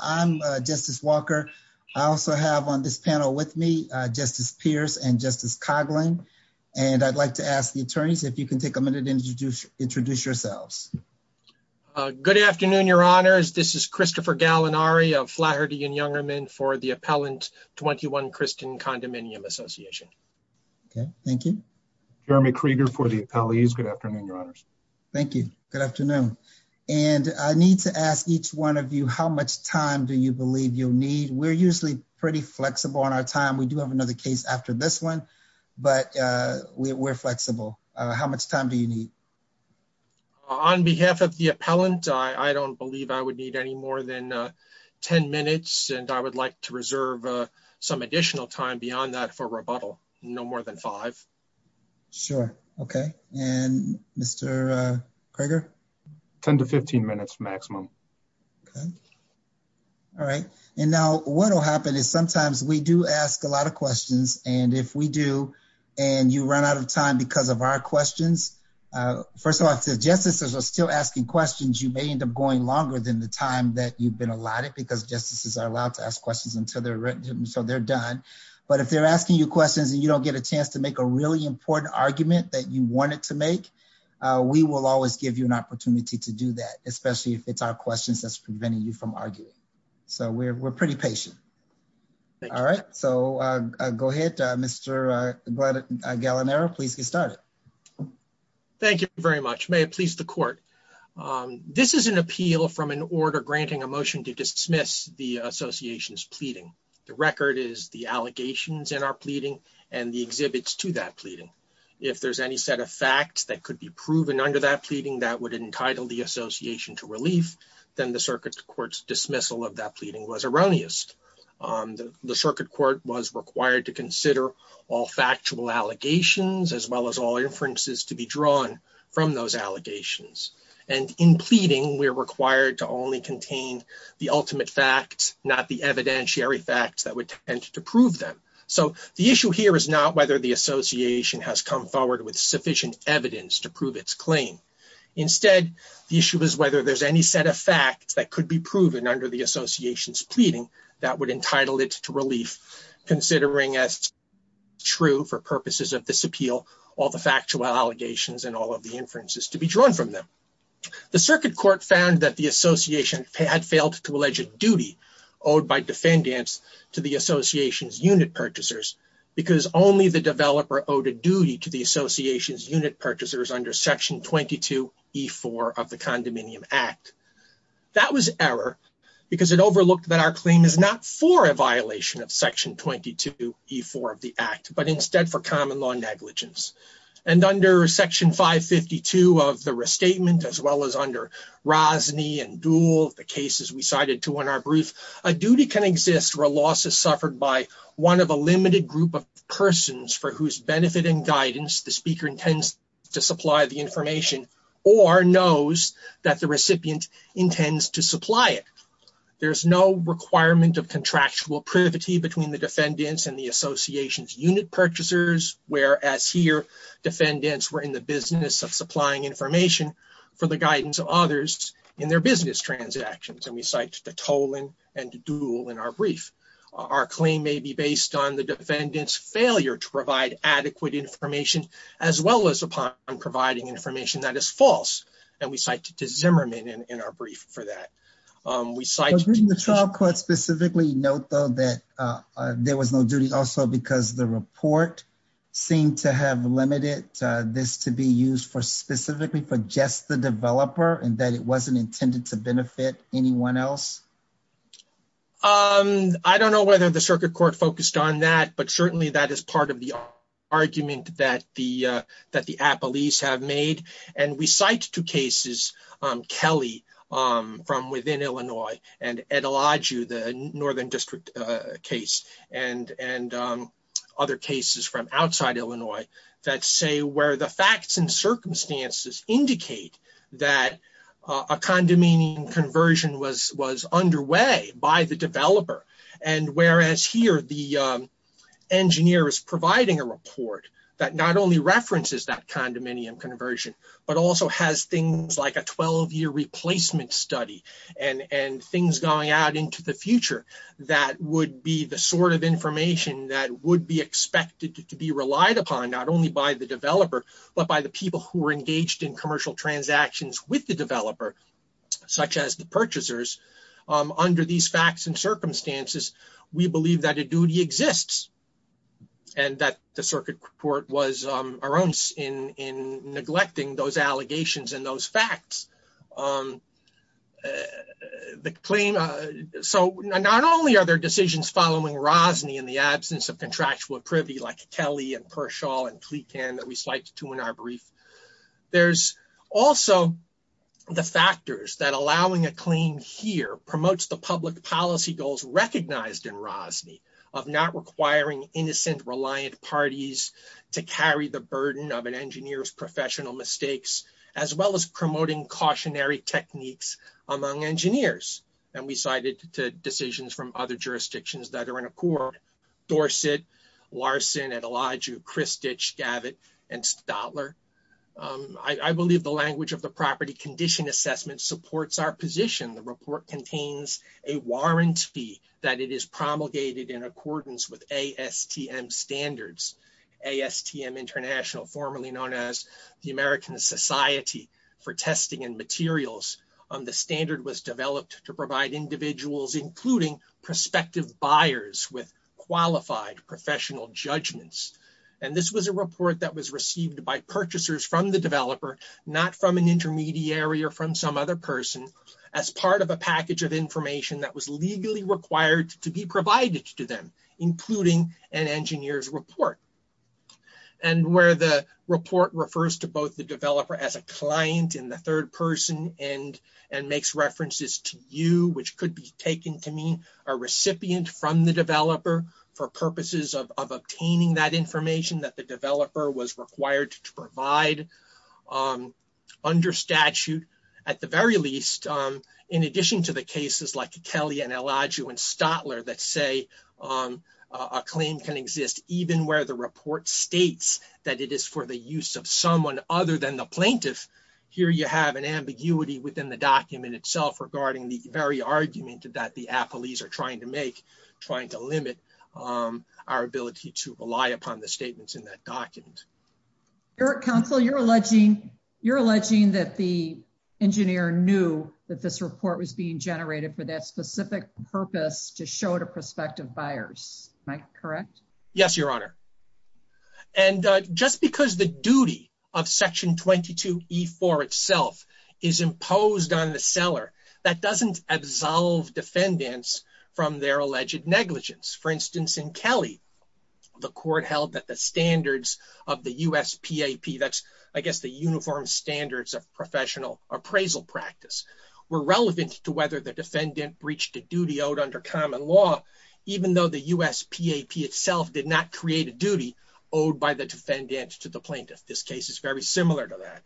I'm Justice Walker. I also have on this panel with me Justice Pierce and Justice Coghlan, and I'd like to ask the attorneys if you can take a minute to introduce yourselves. Good afternoon, Your Honors. This is Christopher Gallinari of Flaherty and Youngerman for the Appellant 21 Christian Condominium Association. Okay, thank you. Jeremy Krieger for the Appellees. Good afternoon, Your Honors. Thank you. Good afternoon. And I need to ask each one of you how much time do you believe you'll need? We're usually pretty flexible on our time. We do have another case after this one, but we're flexible. How much time do you need? On behalf of the Appellant, I don't believe I would need any more than 10 minutes, and I would like to reserve some additional time beyond that for rebuttal, no more than five. Sure, okay. And Mr. Krieger? 10 to 15 minutes maximum. Okay, all right. And now what will happen is sometimes we do ask a lot of questions, and if we do and you run out of time because of our questions, first of all, if the justices are still asking questions, you may end up going longer than the time that you've been allotted because justices are allowed to ask questions until they're written, so they're done. But if they're asking you questions and you don't get a chance to make a really important argument that you wanted to make, we will always give you an opportunity to do that, especially if it's our questions that's preventing you from arguing. So we're pretty patient. All right, so go ahead, Mr. Gallinero, please get started. Thank you very much. May it please the court. This is an appeal from an order granting a motion to dismiss the association's pleading. The record is the allegations in our pleading and the exhibits to that pleading. If there's any set of facts that could be proven under that pleading that would entitle the association to relief, then the circuit court's dismissal of that pleading was erroneous. The circuit court was required to consider all factual allegations as well as all inferences to be drawn from those allegations. And in pleading, we're required to only contain the ultimate facts, not the to prove them. So the issue here is not whether the association has come forward with sufficient evidence to prove its claim. Instead, the issue is whether there's any set of facts that could be proven under the association's pleading that would entitle it to relief, considering as true for purposes of this appeal, all the factual allegations and all of the inferences to be drawn from them. The circuit court found that the association had failed to allege a duty owed by defendants to the association's unit purchasers, because only the developer owed a duty to the association's unit purchasers under section 22E4 of the Condominium Act. That was error, because it overlooked that our claim is not for a violation of section 22E4 of the Act, but instead for common law negligence. And under section 552 of the restatement, as well as under and Duhl, the cases we cited to in our brief, a duty can exist where a loss is suffered by one of a limited group of persons for whose benefit and guidance the speaker intends to supply the information or knows that the recipient intends to supply it. There's no requirement of contractual privity between the defendants and the association's unit purchasers, whereas here defendants were in the business of supplying information for the guidance of others in their business transactions. And we cite to Tolan and Duhl in our brief. Our claim may be based on the defendant's failure to provide adequate information, as well as upon providing information that is false. And we cite to Zimmerman in our brief for that. We cite the trial court specifically. Note, though, that there was no duty also because the report seemed to have limited this to be used for specifically for just the developer and that it wasn't intended to benefit anyone else. I don't know whether the circuit court focused on that, but certainly that is part of the argument that the appellees have made. And we cite two cases, Kelly from within Illinois and Eteladju, the northern district case, and other cases from outside Illinois that say where the facts and circumstances indicate that a condominium conversion was underway by the developer. And whereas here the engineer is providing a report that not only and things going out into the future that would be the sort of information that would be expected to be relied upon, not only by the developer, but by the people who were engaged in commercial transactions with the developer, such as the purchasers, under these facts and circumstances, we believe that a duty exists and that the circuit court was erroneous in neglecting those the claim. So not only are there decisions following Rosny in the absence of contractual privy like Kelly and Pershall and Kleekhan that we slighted to in our brief, there's also the factors that allowing a claim here promotes the public policy goals recognized in Rosny of not requiring innocent, reliant parties to carry the burden of an engineer's professional mistakes, as well as promoting cautionary techniques among engineers. And we cited to decisions from other jurisdictions that are in accord, Dorset, Larson, Eteladju, Christich, Gavit, and Stadler. I believe the language of the property condition assessment supports our position. The report contains a warrant fee that it is promulgated in accordance with ASTM standards, ASTM International, formerly known as the American Society for Testing and Materials. The standard was developed to provide individuals, including prospective buyers, with qualified professional judgments. And this was a report that was received by purchasers from the developer, not from an intermediary or from some other person, as part of a package of information that was legally required to be provided to them, including an engineer's report. And where the report refers to both the developer as a client and the third person and makes references to you, which could be taken to mean a recipient from the developer for purposes of obtaining that information that the developer was required to provide under statute, at the very least, in addition to the cases like Kelly and Eteladju and Stadler that say a claim can exist even where the report states that it is for the use of someone other than the plaintiff, here you have an ambiguity within the document itself regarding the very argument that the affilies are trying to make, trying to limit our ability to rely upon the statements in that document. Eric, counsel, you're alleging that the engineer knew that this report was being generated for that specific purpose to show to prospective buyers. Am I correct? Yes, Your Honor. And just because the duty of Section 22E4 itself is imposed on the seller, that doesn't absolve defendants from their alleged negligence. For instance, in Kelly, the court held that the standards of the USPAP, that's, I guess, the uniform standards of professional appraisal practice, were relevant to whether the defendant breached a duty owed under common law, even though the USPAP itself did not create a duty owed by the defendant to the plaintiff. This case is very similar to that.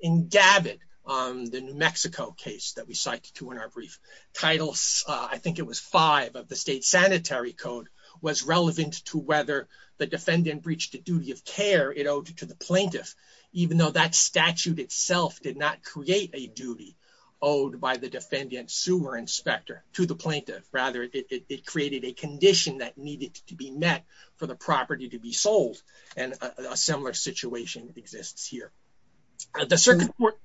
In Gavit, the New Mexico case that we cited to in our brief title, I think it was five of the state sanitary code, was relevant to whether the defendant breached the duty of care it owed to the plaintiff, even though that statute itself did not create a duty owed by the defendant sewer inspector to the plaintiff. Rather, it created a condition that needed to be met for the property to be sold, and a similar situation exists here. The circuit court...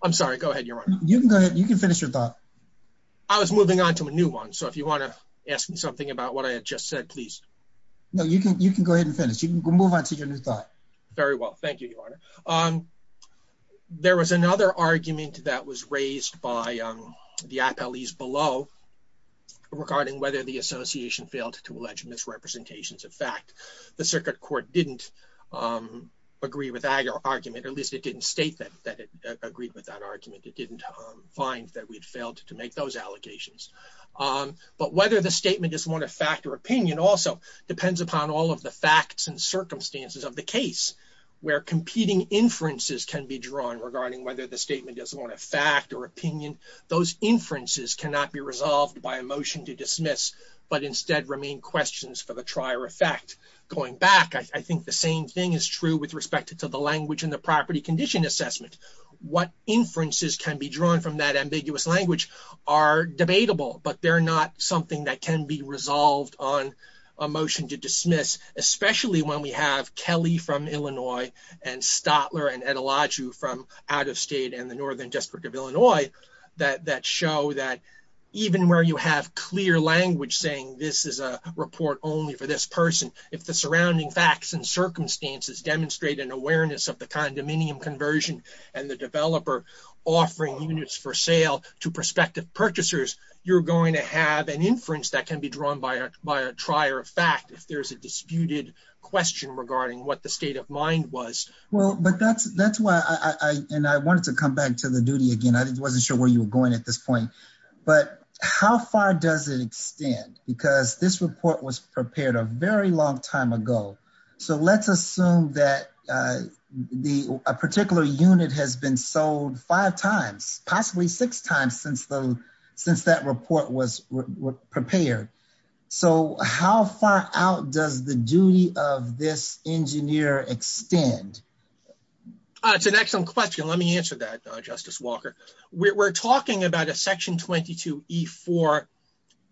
I'm sorry, go ahead, Your Honor. You can go ahead. You can finish your thought. I was moving on to a new one, so if you want to ask me something about what I had just said, please. No, you can go ahead and finish. You can move on to your new thought. Very well, thank you, Your Honor. There was another argument that was raised by the appellees below regarding whether the association failed to allege misrepresentations of fact. The circuit court didn't agree with that argument, or at least it didn't state that it agreed with that argument. It didn't find that we'd failed to make those allegations. But whether the statement is one of fact or opinion also depends upon all of the facts and circumstances of the case where competing inferences can be drawn regarding whether the statement is one of fact or opinion. Those inferences cannot be resolved by a motion to dismiss, but instead remain questions for the trier effect. Going back, I think the same thing is true with respect to the language and the property condition assessment. What inferences can be drawn from that ambiguous language are debatable, but they're not something that can be we have Kelly from Illinois and Stotler and Etalaju from out-of-state and the Northern District of Illinois that show that even where you have clear language saying this is a report only for this person, if the surrounding facts and circumstances demonstrate an awareness of the condominium conversion and the developer offering units for sale to prospective purchasers, you're going to have an inference that can be drawn by a trier of fact if there's a disputed question regarding what the state of mind was. Well, but that's why I wanted to come back to the duty again. I wasn't sure where you were going at this point, but how far does it extend? Because this report was prepared a very long time ago. So let's assume that a particular unit has been sold five times, possibly six times since that report was prepared. So how far out does the duty of this engineer extend? It's an excellent question. Let me answer that, Justice Walker. We're talking about a section 22E4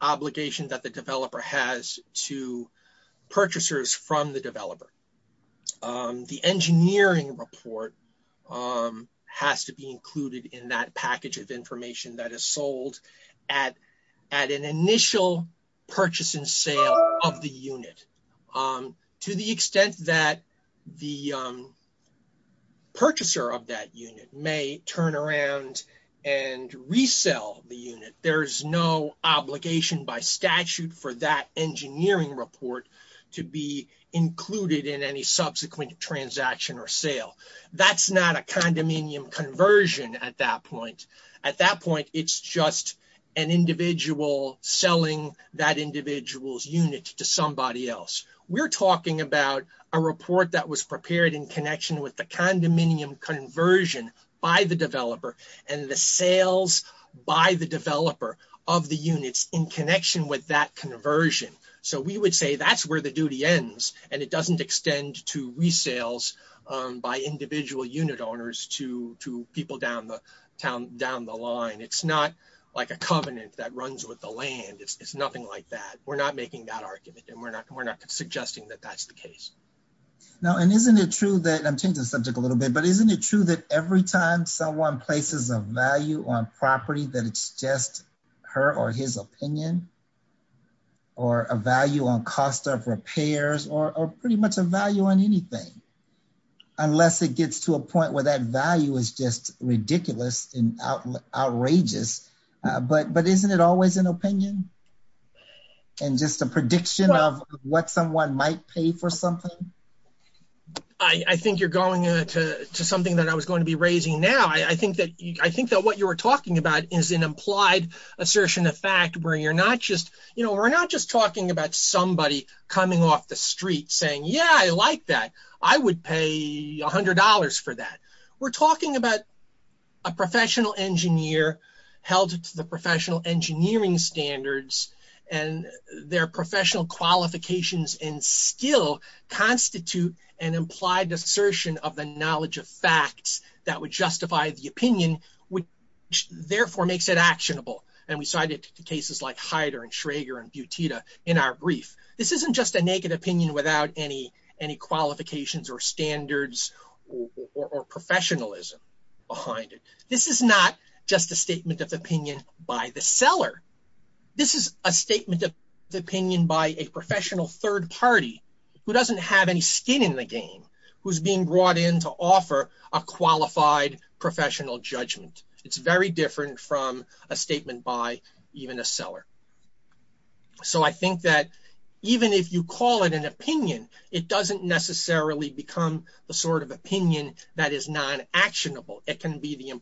obligation that the developer has to purchasers from the developer. The engineering report has to be included in that package of information that is to the extent that the purchaser of that unit may turn around and resell the unit. There's no obligation by statute for that engineering report to be included in any subsequent transaction or sale. That's not a condominium conversion at that point. At that point, it's just an individual unit to somebody else. We're talking about a report that was prepared in connection with the condominium conversion by the developer and the sales by the developer of the units in connection with that conversion. So we would say that's where the duty ends and it doesn't extend to resales by individual unit owners to people down the line. It's not like a covenant that we're not making that argument and we're not suggesting that that's the case. Now, and isn't it true that I'm changing the subject a little bit, but isn't it true that every time someone places a value on property that it's just her or his opinion or a value on cost of repairs or pretty much a value on anything, unless it gets to a point where that prediction of what someone might pay for something? I think you're going to something that I was going to be raising now. I think that what you were talking about is an implied assertion of fact where you're not just, you know, we're not just talking about somebody coming off the street saying, yeah, I like that. I would pay a hundred dollars for that. We're talking about a professional engineer held to the professional engineering standards and their professional qualifications and skill constitute an implied assertion of the knowledge of facts that would justify the opinion, which therefore makes it actionable. And we cited cases like Hyder and Schrager and Butita in our brief. This isn't just a naked opinion without any qualifications or standards or professionalism behind it. This is not just a statement of opinion by the seller. This is a statement of opinion by a professional third party who doesn't have any skin in the game, who's being brought in to offer a qualified professional judgment. It's very different from a statement by even a seller. So I think that even if you call it an opinion, it doesn't necessarily become the sort of opinion that is non actionable. It can be the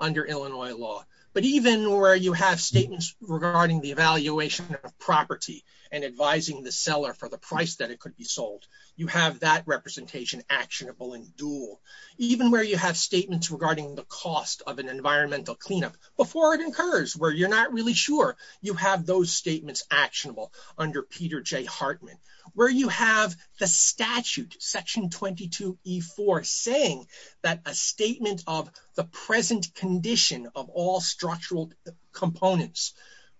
under Illinois law. But even where you have statements regarding the evaluation of property and advising the seller for the price that it could be sold, you have that representation actionable and dual. Even where you have statements regarding the cost of an environmental cleanup before it incurs, where you're not really sure you have those statements actionable under Peter J Hartman, where you have the statute section 22 E4 saying that a statement of the present condition of all structural components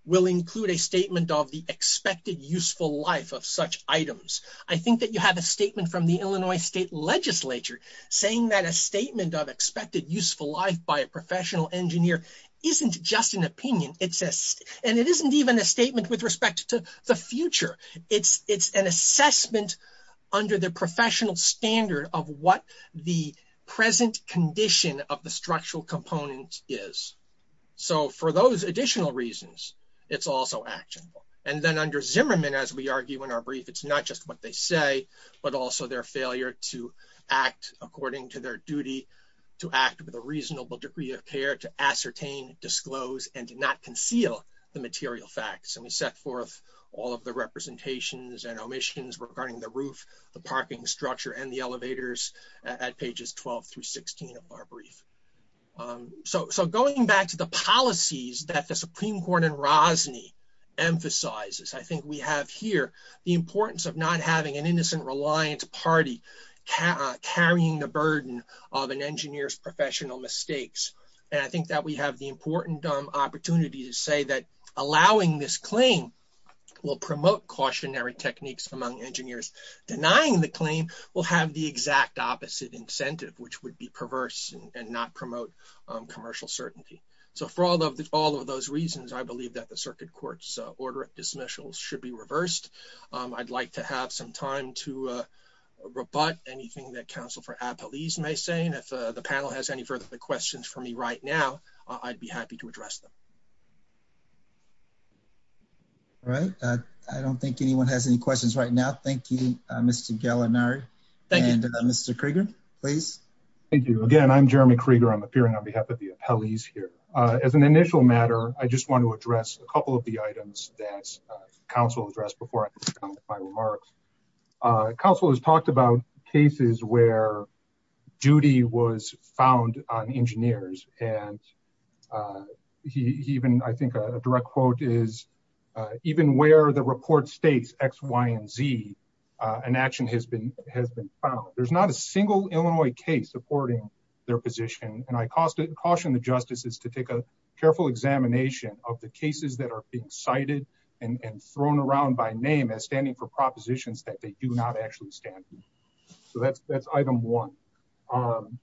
will include a statement of the expected useful life of such items. I think that you have a statement from the Illinois state legislature saying that a statement of expected useful life by a professional engineer isn't just an opinion. And it isn't even a statement with respect to the future. It's an assessment under the structural component is. So for those additional reasons, it's also actionable. And then under Zimmerman, as we argue in our brief, it's not just what they say, but also their failure to act according to their duty to act with a reasonable degree of care to ascertain, disclose, and to not conceal the material facts. And we set forth all of the representations and omissions regarding the roof, the parking structure, and the elevators at pages 12 through 16 of our brief. So going back to the policies that the Supreme Court and Rosny emphasizes, I think we have here the importance of not having an innocent reliant party carrying the burden of an engineer's professional mistakes. And I think that we have the important opportunity to say that allowing this claim will promote cautionary techniques among engineers. Denying the claim will have the exact opposite incentive, which would be perverse and not promote commercial certainty. So for all of the, all of those reasons, I believe that the circuit court's order of dismissals should be reversed. I'd like to have some time to rebut anything that counsel for appellees may say. And if the panel has any further questions for me right now, I'd be happy to address them. All right. I don't think anyone has any questions right now. Thank you, Mr. Gallinari. Thank you. And Mr. Krieger, please. Thank you again. I'm Jeremy Krieger. I'm appearing on behalf of the appellees here. As an initial matter, I just want to address a couple of the items that counsel addressed before my remarks. Counsel has talked about cases where duty was found on engineers and uh, he even, I think a direct quote is, uh, even where the report States X, Y, and Z, uh, an action has been, has been found. There's not a single Illinois case supporting their position. And I caused it caution. The justice is to take a careful examination of the cases that are being cited and thrown around by name as standing for propositions that they do not actually stand. So that's, that's item one. Um,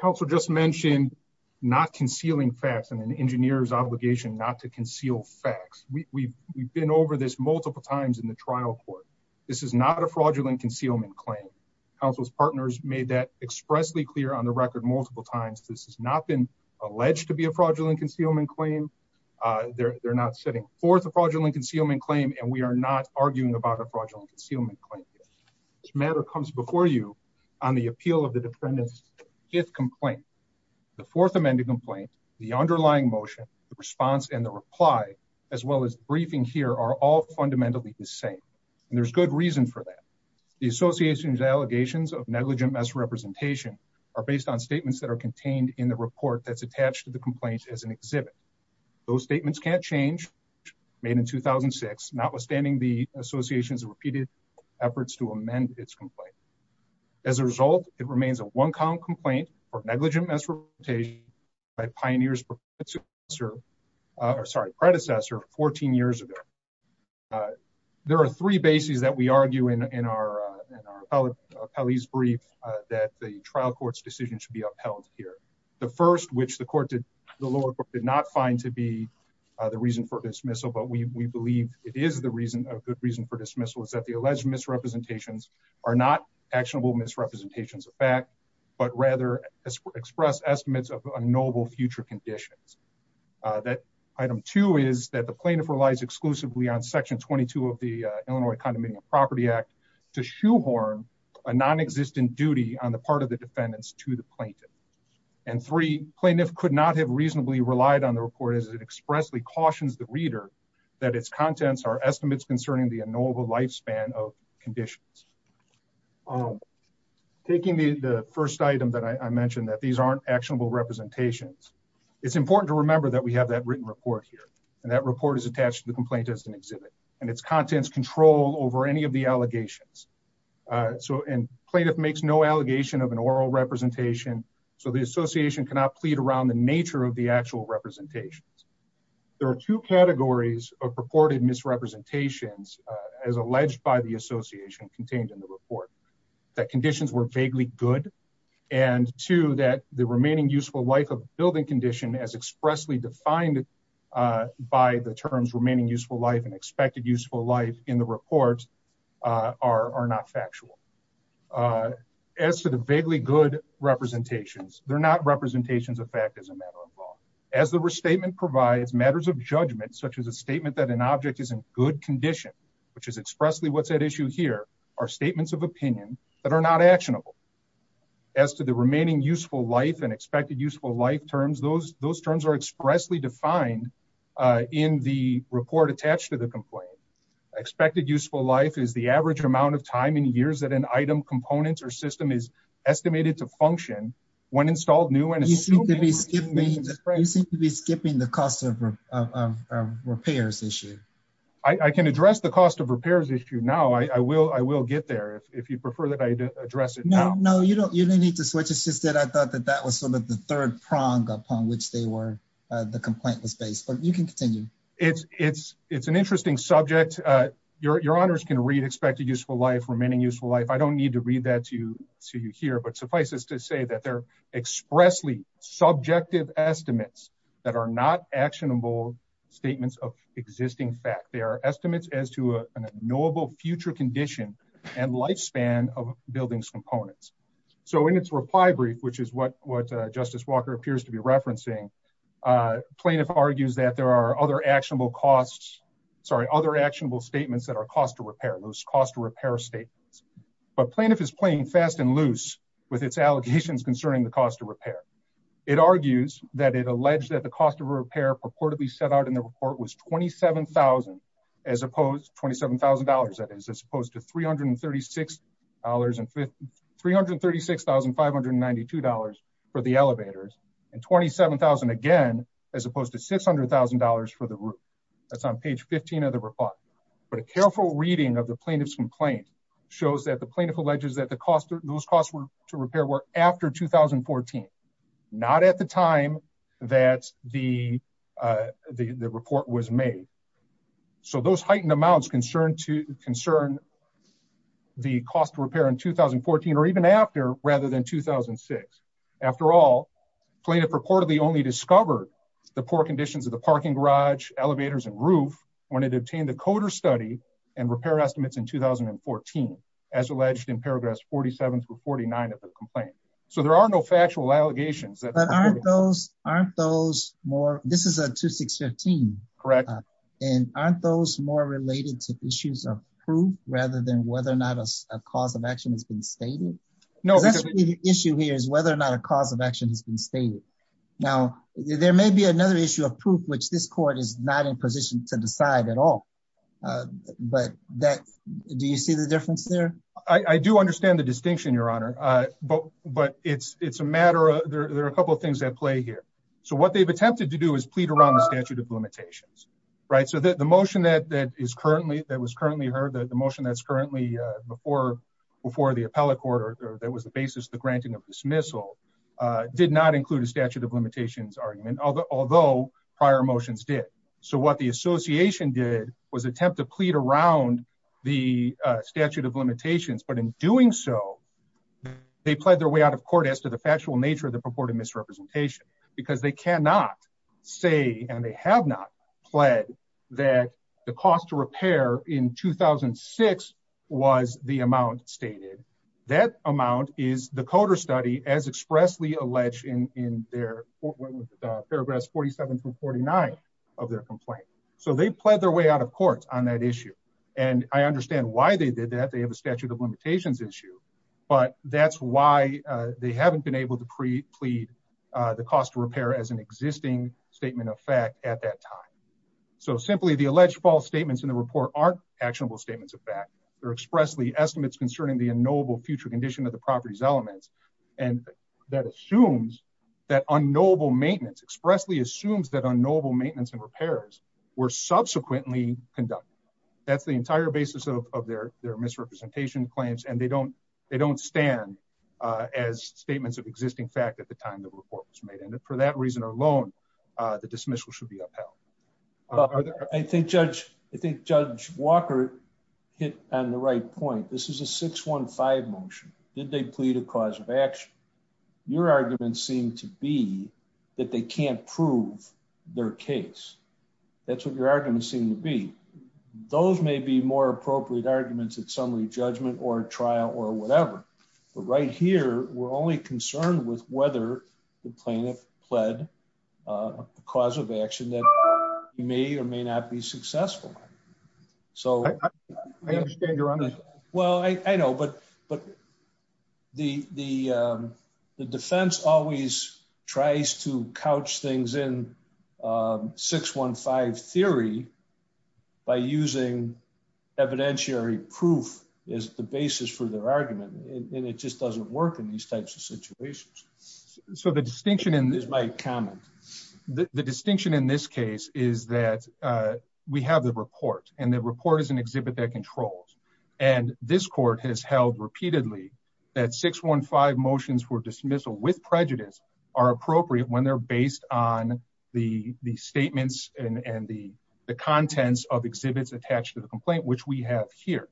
counsel just mentioned not concealing facts and an engineer's obligation, not to conceal facts. We we've, we've been over this multiple times in the trial court. This is not a fraudulent concealment claim. Counsel's partners made that expressly clear on the record multiple times. This has not been alleged to be a fraudulent concealment claim. Uh, they're, they're not setting forth a fraudulent concealment claim, and we are not arguing about a fraudulent concealment matter comes before you on the appeal of the defendants. If complaint, the fourth amended complaint, the underlying motion, the response, and the reply, as well as briefing here are all fundamentally the same. And there's good reason for that. The association's allegations of negligent mess representation are based on statements that are contained in the report. That's attached to the complaint as an exhibit. Those statements can't change made in 2006, notwithstanding the association's repeated efforts to amend its complaint. As a result, it remains a one count complaint or negligent mess rotation by pioneers professor, uh, sorry, predecessor 14 years ago. Uh, there are three bases that we argue in, in our, uh, in our police brief, uh, that the trial court's decision should be upheld here. The first, which the court did the lower court did not find to be the reason for dismissal, but we, we believe it is the reason of good reason for dismissal is that the alleged misrepresentations are not actionable misrepresentations of fact, but rather express estimates of a noble future conditions. Uh, that item two is that the plaintiff relies exclusively on section 22 of the, uh, Illinois condominium property act to shoehorn a non-existent duty on the part of the defendants to the plaintiff. And three plaintiff could not have reasonably relied on the report as it expressly cautions the reader that its contents are estimates concerning the normal lifespan of conditions. Um, taking the first item that I mentioned that these aren't actionable representations. It's important to remember that we have that written report here and that report is attached to the complaint as an exhibit and its contents control over any of the allegations. Uh, so, and plaintiff makes no allegation of an oral representation. So the association cannot plead around the nature of the actual representations. There are two categories of purported misrepresentations, uh, as alleged by the association contained in the report, that conditions were vaguely good. And to that, the remaining useful life of building condition as expressly defined, uh, by the terms remaining useful life and expected useful life in the reports, uh, are, are not factual, uh, as to vaguely good representations. They're not representations of fact as a matter of law, as the restatement provides matters of judgment, such as a statement that an object is in good condition, which is expressly what's at issue here are statements of opinion that are not actionable as to the remaining useful life and expected useful life terms. Those, those terms are expressly defined, uh, in the report attached to the complaint. I expected useful life is the estimated to function when installed new. And you seem to be skipping, you seem to be skipping the cost of, of, of repairs issue. I can address the cost of repairs issue. Now I will, I will get there if you prefer that I address it. No, no, you don't, you don't need to switch. It's just that I thought that that was sort of the third prong upon which they were, uh, the complaint was based, but you can continue. It's, it's, it's an interesting subject. Uh, your, your honors can expect a useful life, remaining useful life. I don't need to read that to you, see you here, but suffice us to say that they're expressly subjective estimates that are not actionable statements of existing fact. They are estimates as to a noble future condition and lifespan of buildings components. So when it's reply brief, which is what, what a justice Walker appears to be referencing, uh, plaintiff argues that there are other actionable costs, sorry, other actionable statements that are cost to repair those cost of repair statements, but plaintiff is playing fast and loose with its allegations concerning the cost of repair. It argues that it alleged that the cost of repair purportedly set out in the report was 27,000 as opposed to $27,000. That is as opposed to $336 and that's on page 15 of the report, but a careful reading of the plaintiff's complaint shows that the plaintiff alleges that the cost of those costs were to repair work after 2014, not at the time that the, uh, the, the report was made. So those heightened amounts concerned to concern the cost of repair in 2014, or even after rather than 2006, after all plaintiff reportedly only discovered the poor conditions of the parking garage, elevators, and roof when it obtained the coder study and repair estimates in 2014, as alleged in paragraphs 47 through 49 of the complaint. So there are no factual allegations that aren't those, aren't those more, this is a two, six, 15, correct. And aren't those more related to issues of proof rather than whether or not a cause of action has been stated issue here is whether or not a cause of action has been stated. Now there may be another issue of proof, which this court is not in position to decide at all. Uh, but that, do you see the difference there? I do understand the distinction, your honor. Uh, but, but it's, it's a matter of, there are a couple of things at play here. So what they've attempted to do is plead around the statute of limitations, right? So that the motion that, that is currently that was currently heard that the motion that's currently, uh, before, before the appellate court, or that was the basis of the granting of dismissal, uh, did not include a statute of limitations argument, although prior motions did. So what the association did was attempt to plead around the statute of limitations, but in doing so they pled their way out of court as to the factual nature of the purported misrepresentation, because they cannot say, and they have not pled that the cost to repair in 2006 was the amount stated. That amount is the coder study as expressly alleged in, in their paragraphs 47 through 49 of their complaint. So they pled their way out of court on that issue. And I understand why they did that. They have a statute of limitations issue, but that's why they haven't been able to pre plead, uh, the cost to at that time. So simply the alleged false statements in the report aren't actionable statements of fact, they're expressly estimates concerning the unknowable future condition of the properties elements. And that assumes that unknowable maintenance expressly assumes that unknowable maintenance and repairs were subsequently conducted. That's the entire basis of, of their, their misrepresentation claims. And they don't, they don't stand, uh, as statements of existing fact at the time that report was made. And for that reason alone, uh, dismissal should be upheld. I think judge, I think judge Walker hit on the right point. This is a six one five motion. Did they plead a cause of action? Your arguments seem to be that they can't prove their case. That's what your arguments seem to be. Those may be more appropriate arguments at summary judgment or trial or whatever, but right here, we're only concerned with whether the plaintiff pled, uh, cause of action that may or may not be successful. So I understand you're on this. Well, I know, but, but the, the, um, the defense always tries to couch things in, um, six one five theory by using evidentiary proof is the basis for their argument. And it just doesn't work in these types of situations. So the distinction in this is my comment. The distinction in this case is that, uh, we have the report and the report is an exhibit that controls. And this court has held repeatedly that six one five motions were dismissal with prejudice are appropriate when they're based on the statements and the contents of exhibits attached to the complaint, which we have here.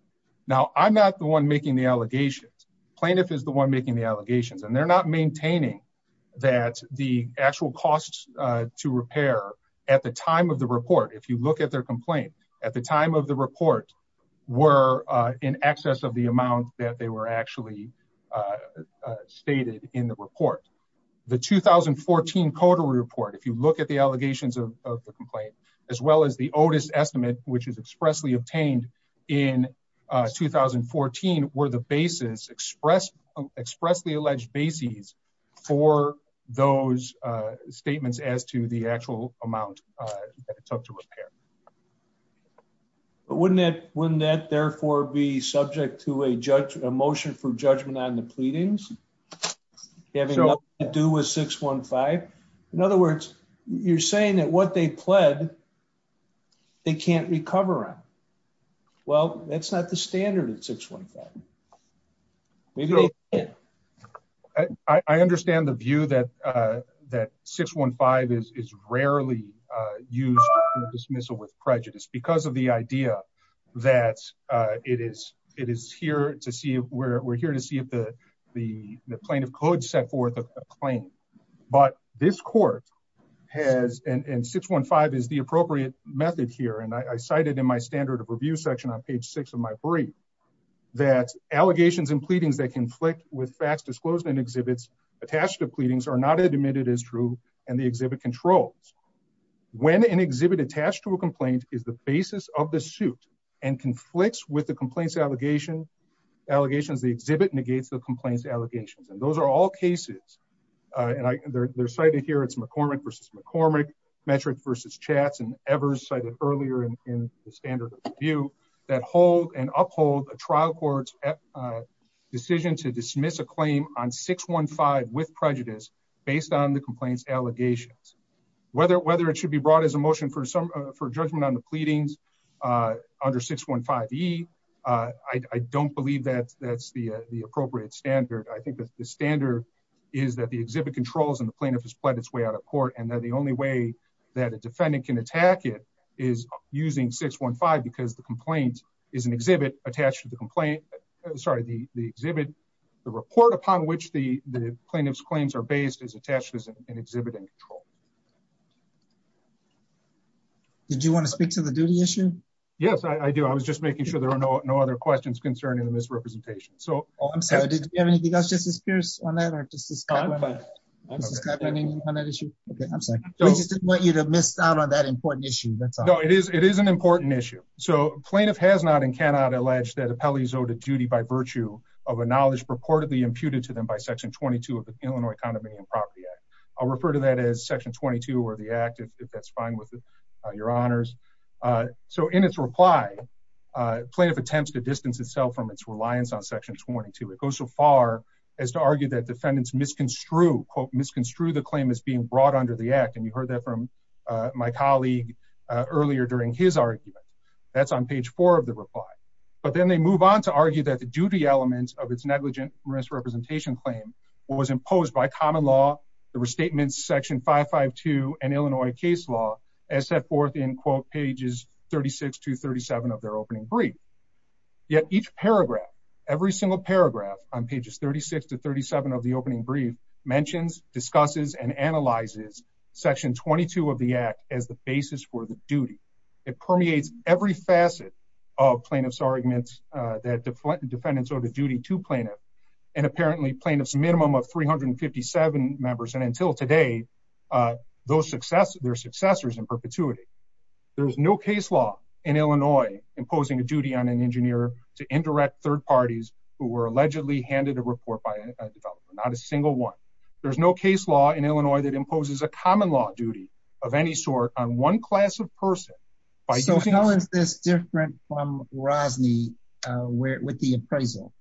Now I'm not the one making the allegations. Plaintiff is the one making the allegations and they're not maintaining that the actual costs, uh, to repair at the time of the report. If you look at their complaint at the time of the report were, uh, in excess of the amount that they were actually, uh, uh, stated in the report, the 2014 code report. If you look at the allegations of the complaint, as well as the Otis estimate, which is expressly obtained in, uh, 2014, where the basis expressed expressly alleged bases for those, uh, statements as to the actual amount, uh, that it took to repair. But wouldn't that, wouldn't that therefore be subject to a judge, a motion for judgment on the pleadings having nothing to do with six one five. In other words, you're saying that what they pled, they can't recover on. Well, that's not the standard at six one five. Maybe I understand the view that, uh, that six one five is, is rarely, uh, used dismissal with prejudice because of the idea that, uh, it is, it is here to see where we're here to see if the, the plaintiff could set forth a claim, but this court has, and six one five is the appropriate method here. And I cited in my standard of review section on page six of my brief that allegations and pleadings that conflict with fast disclosed and exhibits attached to pleadings are not admitted as true. And the exhibit controls when an exhibit attached to a complaint is the basis of the suit and conflicts with the complaints, allegation allegations. The exhibit negates the complaints allegations. And those are all cases. Uh, and I, they're, they're cited here. It's McCormick versus McCormick metric versus chats and ever cited earlier in the standard view that hold and uphold a trial court's decision to dismiss a claim on six one five with prejudice based on the complaints allegations, whether, whether it should be brought as a motion for some, uh, for judgment on the pleadings, uh, under six one five E uh, I, I don't believe that that's the, uh, the appropriate standard. I think that the standard is that the exhibit controls and the plaintiff has pledged its way out of court. And then the only way that a defendant can attack it is using six one five, because the complaint is an exhibit attached to the complaint. Sorry, the, the exhibit, the report upon which the plaintiff's claims are based is attached as an exhibit and control. Okay. Did you want to speak to the duty issue? Yes, I do. I was just making sure there are no, no other questions concerning the misrepresentation. So I'm sorry. Did you have anything else just as fierce on that or just this time? Okay. I'm sorry. I just didn't want you to miss out on that important issue. That's all it is. It is an important issue. So plaintiff has not and cannot allege that appellees owed a duty by virtue of a knowledge purportedly imputed to them by section 22 of the Illinois condominium property act. I'll refer to that as section 22, or the active, if that's fine with your honors. Uh, so in its reply, uh, plaintiff attempts to distance itself from its reliance on section 22. It goes so far as to argue that defendants misconstrue quote, misconstrue the claim is being brought under the act. And you heard that from, uh, my colleague, uh, earlier during his argument that's on page four of the reply, but then they move on to argue that the duty elements of its negligent misrepresentation claim was imposed by common law. The restatements section five, five, two, and Illinois case law as set forth in quote, pages 36 to 37 of their opening brief. Yet each paragraph, every single paragraph on pages 36 to 37 of the opening brief mentions discusses and analyzes section 22 of the act as the basis for the duty. It permeates every facet of plaintiff's arguments, uh, that deflected defendants or the duty to plaintiff and apparently plaintiff's minimum of 357 members. And until today, uh, those success, their successors in perpetuity, there was no case law in Illinois, imposing a duty on an engineer to indirect third parties who were allegedly handed a report by a developer, not a single one. There's no case law in Illinois that imposes a common law duty of any sort on one class of person. So how is this different from Rosney, uh, where, with the appraisal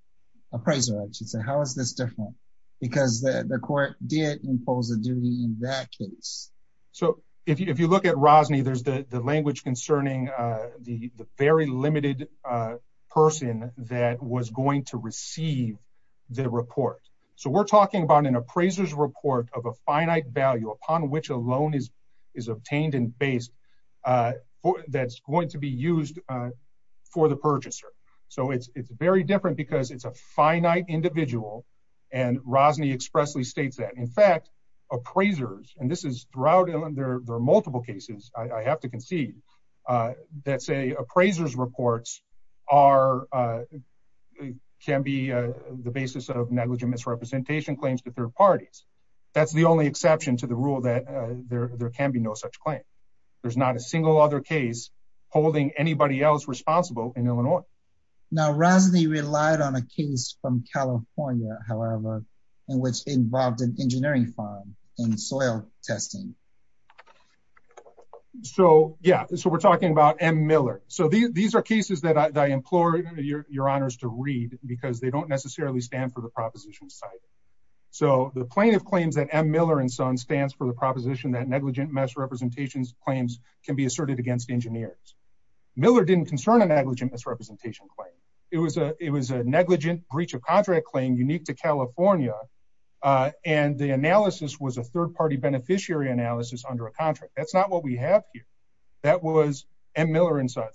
appraiser, I should say, how is this different? Because the court did impose a duty in that case. So if you, if you look at Rosney, there's the language concerning, uh, the, the very limited, uh, person that was going to receive the report. So we're talking about an appraiser's report of a finite value upon which a loan is, is obtained and based, uh, for that's going to be used, uh, for the purchaser. So it's, it's very different because it's a finite individual. And Rosney expressly States that in fact, appraisers, and this is throughout Illinois, there are multiple cases. I have to concede, uh, that say appraisers reports are, uh, can be, uh, the basis of negligent misrepresentation claims to third parties. That's the only exception to the rule that, uh, there, there can be no such claim. There's not a single other case holding anybody else responsible in Illinois. Now, Rosney relied on a case from California, however, in which involved an engineering farm and soil testing. So, yeah, so we're talking about M Miller. So these are cases that I implore your honors to read because they don't necessarily stand for the proposition side. So the plaintiff claims that M Miller and son stands for the proposition that negligent misrepresentations claims can be asserted against engineers. Miller didn't concern a negligent misrepresentation claim. It was a, it was a negligent breach of contract claim unique to California. Uh, and the analysis was a third beneficiary analysis under a contract. That's not what we have here. That was M Miller inside,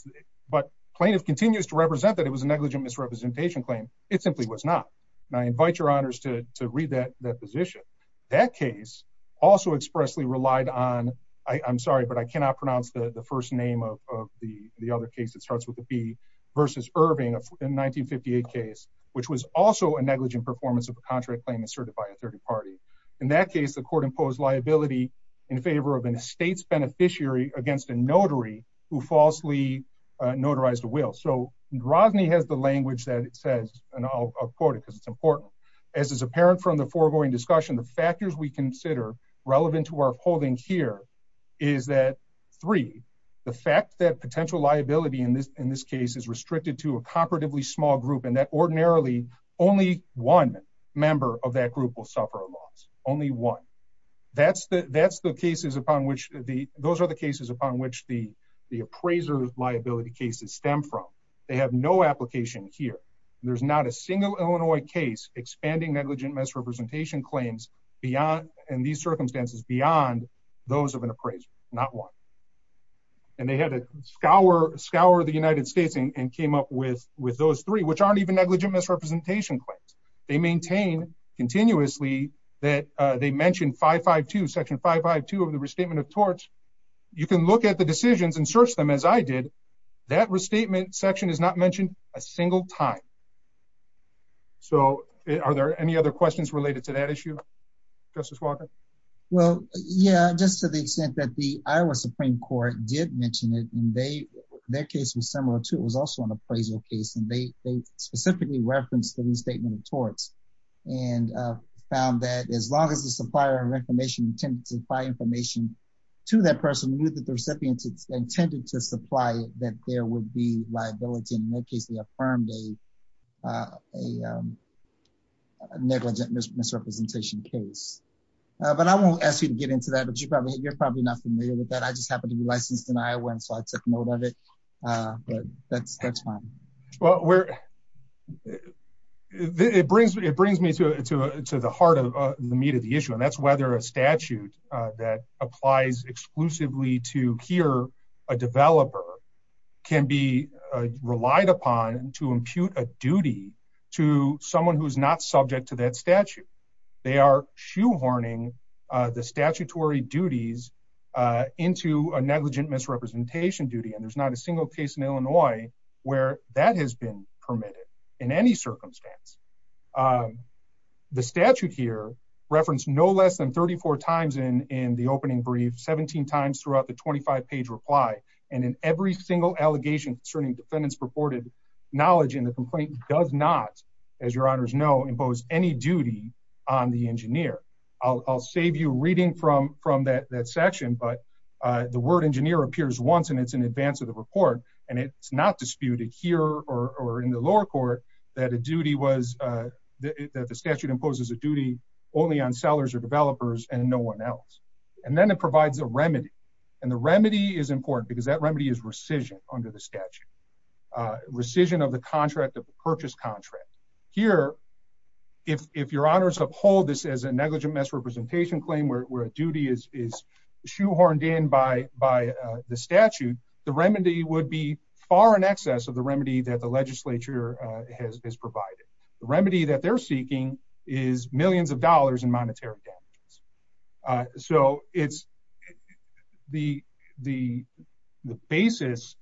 but plaintiff continues to represent that it was a negligent misrepresentation claim. It simply was not. And I invite your honors to read that position. That case also expressly relied on, I I'm sorry, but I cannot pronounce the first name of the other case. It starts with the B versus Irving in 1958 case, which was also a negligent performance of a contract claim asserted by a third party. In that case, the court imposed liability in favor of an estate's beneficiary against a notary who falsely notarized a will. So Drozny has the language that it says, and I'll quote it because it's important as is apparent from the foregoing discussion, the factors we consider relevant to our holding here is that three, the fact that potential liability in this, in this case is restricted to a comparatively small group. And that ordinarily only one member of that group will suffer a loss. Only one. That's the, that's the cases upon which the, those are the cases upon which the, the appraiser liability cases stem from. They have no application here. There's not a single Illinois case expanding negligent misrepresentation claims beyond, and these circumstances beyond those of an appraiser, not one. And they had a scour, scour the United States and came up with, with those three, which aren't even negligent misrepresentation claims. They maintain continuously that they mentioned five, five, two section five, five, two of the restatement of torch. You can look at the decisions and search them as I did. That restatement section is not mentioned a single time. So are there any other questions related to that issue? Justice Walker? Well, yeah, just to the extent that the Iowa Supreme court did mention it and they, their case was similar to, it was also an appraisal case and they, they specifically referenced the restatement of torts and found that as long as the supplier of information intended to supply information to that person knew that the recipient intended to supply it, that there would be liability in their case, they affirmed a, a negligent misrepresentation case. But I won't ask you to get into that, but you probably, you're probably not familiar with that. I just happened to be licensed in Iowa. And so I took note of it, but that's, that's fine. Well, where it brings me, it brings me to, to, to the heart of the meat of the issue. And that's whether a statute that applies exclusively to here, a developer can be relied upon to impute a duty to someone who's not subject to that statute. They are shoehorning the statutory duties into a negligent misrepresentation duty. And there's not a single case in Illinois where that has been permitted in any circumstance. The statute here referenced no less than 34 times in, in the opening brief, 17 times throughout the 25 page reply. And in every single allegation concerning defendants reported knowledge in the complaint does not, as your honors know, any duty on the engineer. I'll, I'll save you reading from, from that, that section, but the word engineer appears once and it's in advance of the report. And it's not disputed here or in the lower court that a duty was that the statute imposes a duty only on sellers or developers and no one else. And then it provides a remedy. And the remedy is important because that remedy is under the statute, a rescission of the contract of the purchase contract here. If, if your honors uphold this as a negligent misrepresentation claim, where a duty is, is shoehorned in by, by the statute, the remedy would be far in excess of the remedy that the legislature has provided. The remedy that they're seeking is millions of dollars in monetary damages. So it's the, the, the basis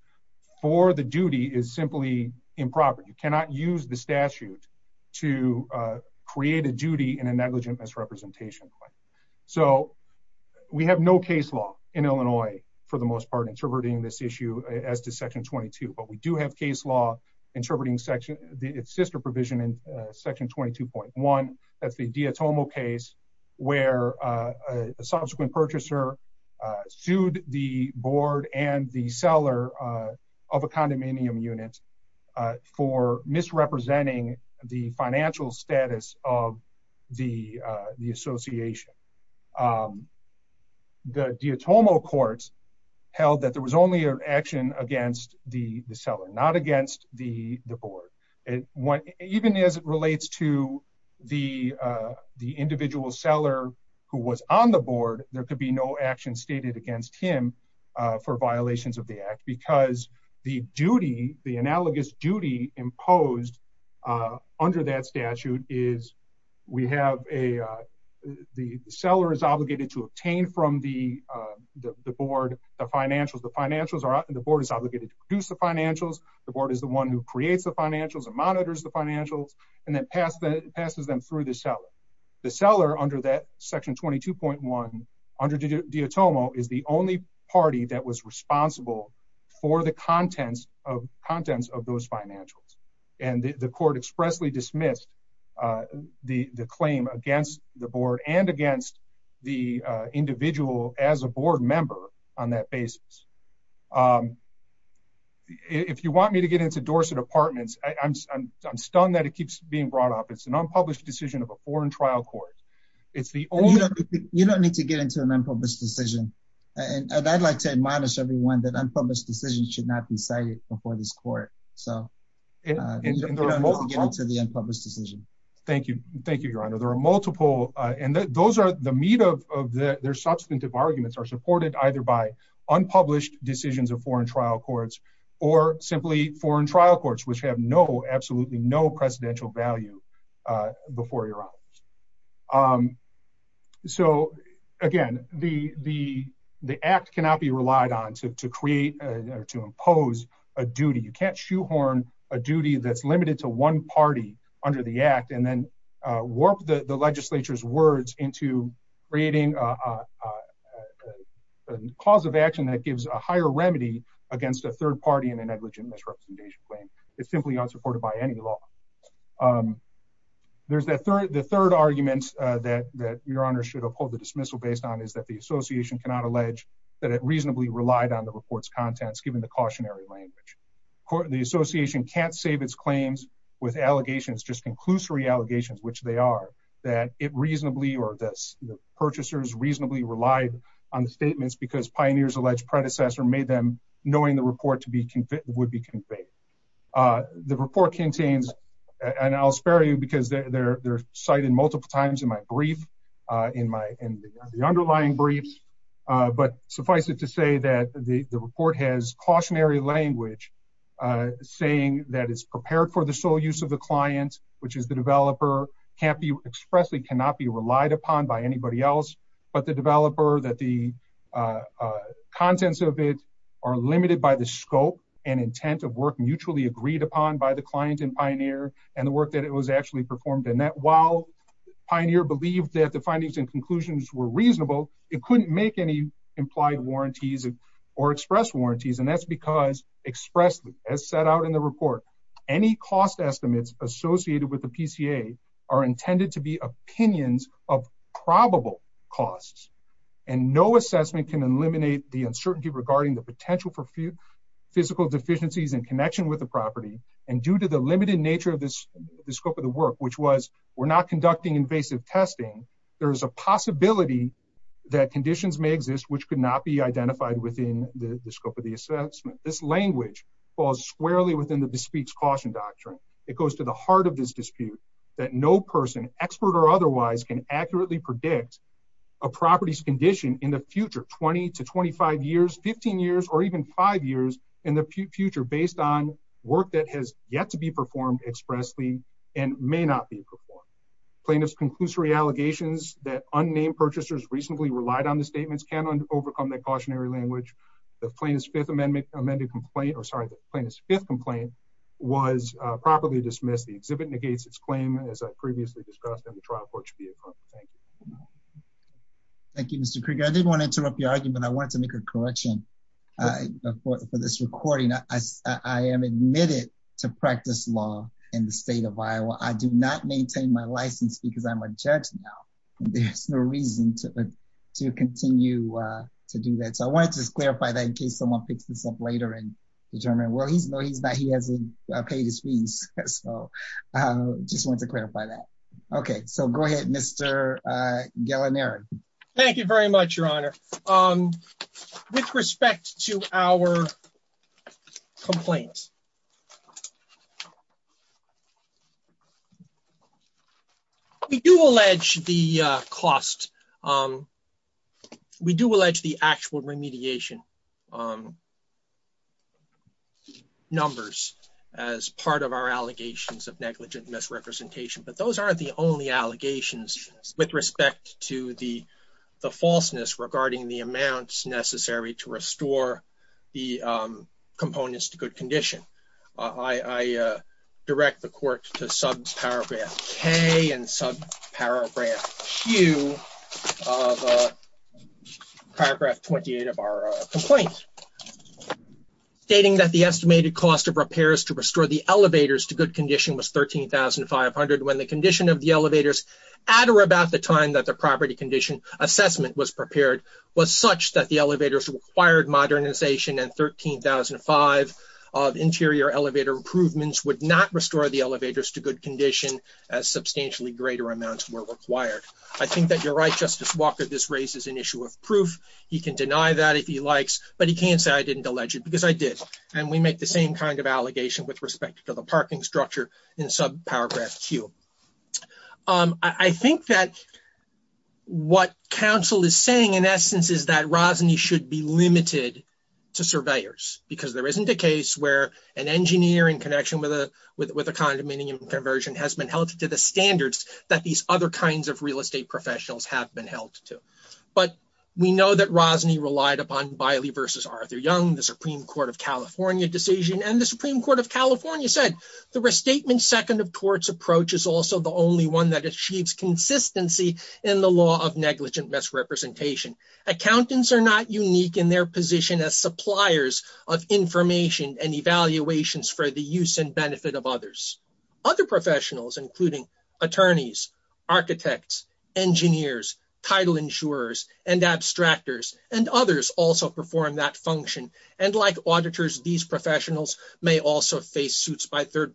for the duty is simply improper. You cannot use the statute to create a duty in a negligent misrepresentation. So we have no case law in Illinois, for the most part, interpreting this issue as to section 22, but we do have case law interpreting section it's sister provision in section 22.1. That's the Diatomo case where a subsequent purchaser sued the board and the seller of a condominium unit for misrepresenting the financial status of the, the association. The Diatomo courts held that there was only an action against the seller, not against the board. And what, even as it relates to the, the individual seller who was on the board, there could be no action stated against him for violations of the act because the duty, the analogous duty imposed under that statute is we have a, the seller is obligated to obtain from the, the board, the financials, the financials are the board is obligated to the financials. The board is the one who creates the financials and monitors the financials and then pass the passes them through the seller. The seller under that section 22.1 under Diatomo is the only party that was responsible for the contents of contents of those financials. And the court expressly dismissed the claim against the board and against the individual as a board member on that basis. If you want me to get into Dorset apartments, I I'm, I'm, I'm stunned that it keeps being brought up. It's an unpublished decision of a foreign trial court. It's the only, you don't need to get into an unpublished decision. And I'd like to admonish everyone that unpublished decisions should not be cited before this court. So to the unpublished decision. Thank you. Thank you, your honor. There are multiple, and those are the meat of, their substantive arguments are supported either by unpublished decisions of foreign trial courts or simply foreign trial courts, which have no, absolutely no precedential value before your eyes. So again, the, the, the act cannot be relied on to, to create or to impose a duty. You can't shoehorn a duty that's limited to one party under the act, and then warp the legislature's words into rating a cause of action that gives a higher remedy against a third party in a negligent misrepresentation claim. It's simply unsupported by any law. There's that third, the third argument that, that your honor should uphold the dismissal based on is that the association cannot allege that it reasonably relied on the reports contents, given the cautionary language the association can't save its claims with allegations, just conclusory allegations, which they are that it reasonably, or this purchasers reasonably relied on the statements because pioneers alleged predecessor made them knowing the report to be convicted would be conveyed. The report contains, and I'll spare you because they're, they're cited multiple times in my brief in my, in the underlying briefs. But suffice it to say that the report has cautionary language, saying that it's prepared for the sole use of the client, which is the developer can't be expressly cannot be relied upon by anybody else, but the developer that the contents of it are limited by the scope and intent of work mutually agreed upon by the client and pioneer and the work that it was actually performed in that while pioneer believed that the findings and conclusions were reasonable, it couldn't make any implied warranties or express warranties. And that's because expressly as set out in the report, any cost estimates associated with the PCA are intended to be opinions of probable costs and no assessment can eliminate the uncertainty regarding the potential for few physical deficiencies in connection with the property. And due to the limited nature of this, the scope of the work, which was, we're not conducting invasive testing. There is a possibility that conditions may exist, which could not be identified within the scope of the assessment. This language falls squarely within the bespeaks caution doctrine. It goes to the heart of this dispute that no person expert or otherwise can accurately predict a property's condition in the future 20 to 25 years, 15 years, or even five years in the future, based on work that has yet to be performed expressly and may not be performed. Plaintiffs conclusory allegations that unnamed purchasers recently relied on the statements overcome that cautionary language. The plaintiff's fifth amendment amended complaint, or sorry, the plaintiff's fifth complaint was properly dismissed. The exhibit negates its claim, as I previously discussed in the trial court should be approved. Thank you. Thank you, Mr. Krieger. I didn't want to interrupt your argument. I wanted to make a correction for this recording. I am admitted to practice law in the state of Iowa. I do not maintain my to do that. So I wanted to clarify that in case someone picks this up later and determine where he's no, he's not, he hasn't paid his fees. So just want to clarify that. Okay, so go ahead, Mr. Guilinieri. Thank you very much, Your Honor. With respect to our complaints. We do allege the cost. We do allege the actual remediation numbers as part of our allegations of negligent misrepresentation. But those aren't the only allegations with respect to the falseness regarding the amounts necessary to I direct the court to sub paragraph K and sub paragraph Q of paragraph 28 of our complaint, stating that the estimated cost of repairs to restore the elevators to good condition was $13,500 when the condition of the elevators at or about the time that the property condition assessment was prepared was such that the elevators required modernization and $13,500 of interior elevator improvements would not restore the elevators to good condition as substantially greater amounts were required. I think that you're right, Justice Walker, this raises an issue of proof. He can deny that if he likes, but he can't say I didn't allege it because I did. And we make the same kind of allegation with respect to the parking structure in sub paragraph Q. I think that what counsel is saying in essence is that Rosny should be limited to surveyors because there isn't a case where an engineer in connection with a condominium conversion has been held to the standards that these other kinds of real estate professionals have been held to. But we know that Rosny relied upon Biley versus Arthur Young, the Supreme Court of California decision. And the Supreme Court of California said the restatement second of torts approach is also the only one that achieves consistency in the law of negligent misrepresentation. Accountants are not unique in their position as suppliers of information and evaluations for the use and benefit of others. Other professionals, including attorneys, architects, engineers, title insurers, and abstractors, and others also perform that function. And like auditors, these professionals may also face suits by third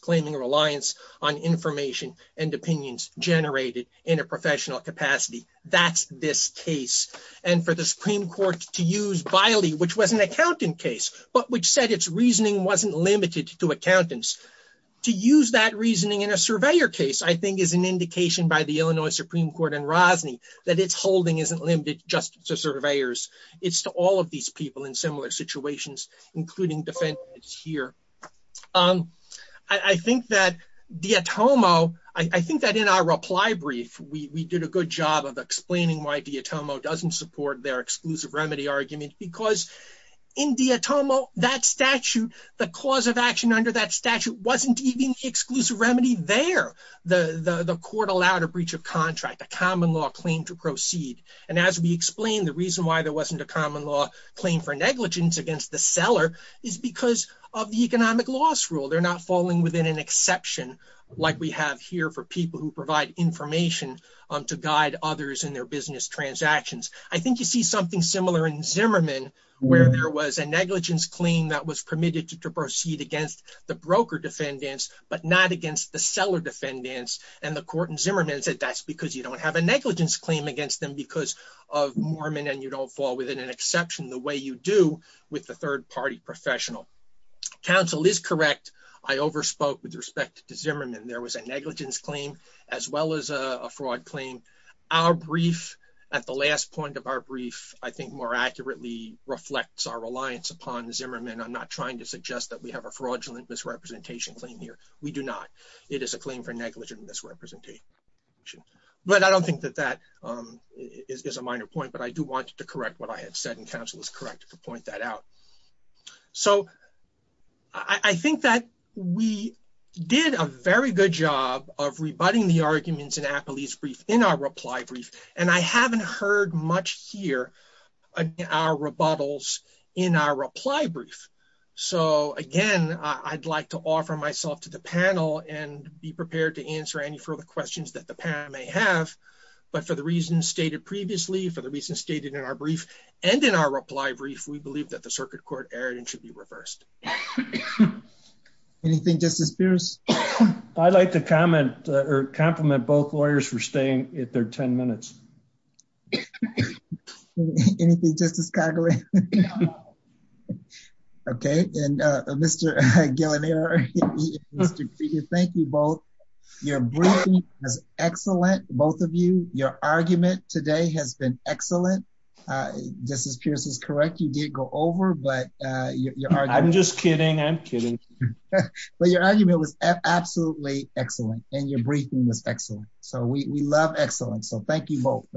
claiming reliance on information and opinions generated in a professional capacity. That's this case. And for the Supreme Court to use Biley, which was an accountant case, but which said its reasoning wasn't limited to accountants, to use that reasoning in a surveyor case, I think is an indication by the Illinois Supreme Court and Rosny that its holding isn't limited just to surveyors. It's to all of these people in similar situations, including defendants here. I think that D'Automo, I think that in our reply brief, we did a good job of explaining why D'Automo doesn't support their exclusive remedy argument. Because in D'Automo, that statute, the cause of action under that statute wasn't even exclusive remedy there. The court allowed a breach of contract, a common law claim to proceed. And as we explained, the reason why there wasn't a common law claim for negligence against the seller is because of the economic loss rule. They're not falling within an exception, like we have here for people who provide information to guide others in their business transactions. I think you see something similar in Zimmerman, where there was a negligence claim that was permitted to proceed against the broker defendants, but not against the seller defendants. And the court in Zimmerman said that's because you don't have a negligence claim against them because of Mormon and you don't fall within an exception the way you do with the third party professional. Counsel is correct. I overspoke with respect to Zimmerman. There was a negligence claim, as well as a fraud claim. Our brief, at the last point of our brief, I think more accurately reflects our reliance upon Zimmerman. I'm not trying to suggest that we have a fraudulent misrepresentation claim here. We do not. It is a claim for negligent misrepresentation. But I don't think that that is a minor point, but I do want to correct what I had said, and counsel is correct to point that out. So I think that we did a very good job of rebutting the arguments in Appelie's brief, in our reply brief, and I haven't heard much here in our rebuttals in our reply brief. So again, I'd like to offer myself to the panel and be prepared to answer any further questions that the panel may have. But for the reasons stated previously, for the reasons stated in our brief, and in our reply brief, we believe that the circuit court error should be reversed. Anything, Justice Pierce? I'd like to compliment both lawyers for staying at their 10 minutes. Anything, Justice Calgary? Okay, and Mr. Guillanier, thank you both. Your briefing was excellent. Both of you, your argument today has been excellent. Justice Pierce is correct, you did go over, but I'm just kidding. I'm kidding. But your argument was absolutely excellent. And your briefing was excellent. So we love excellence. So thank you both.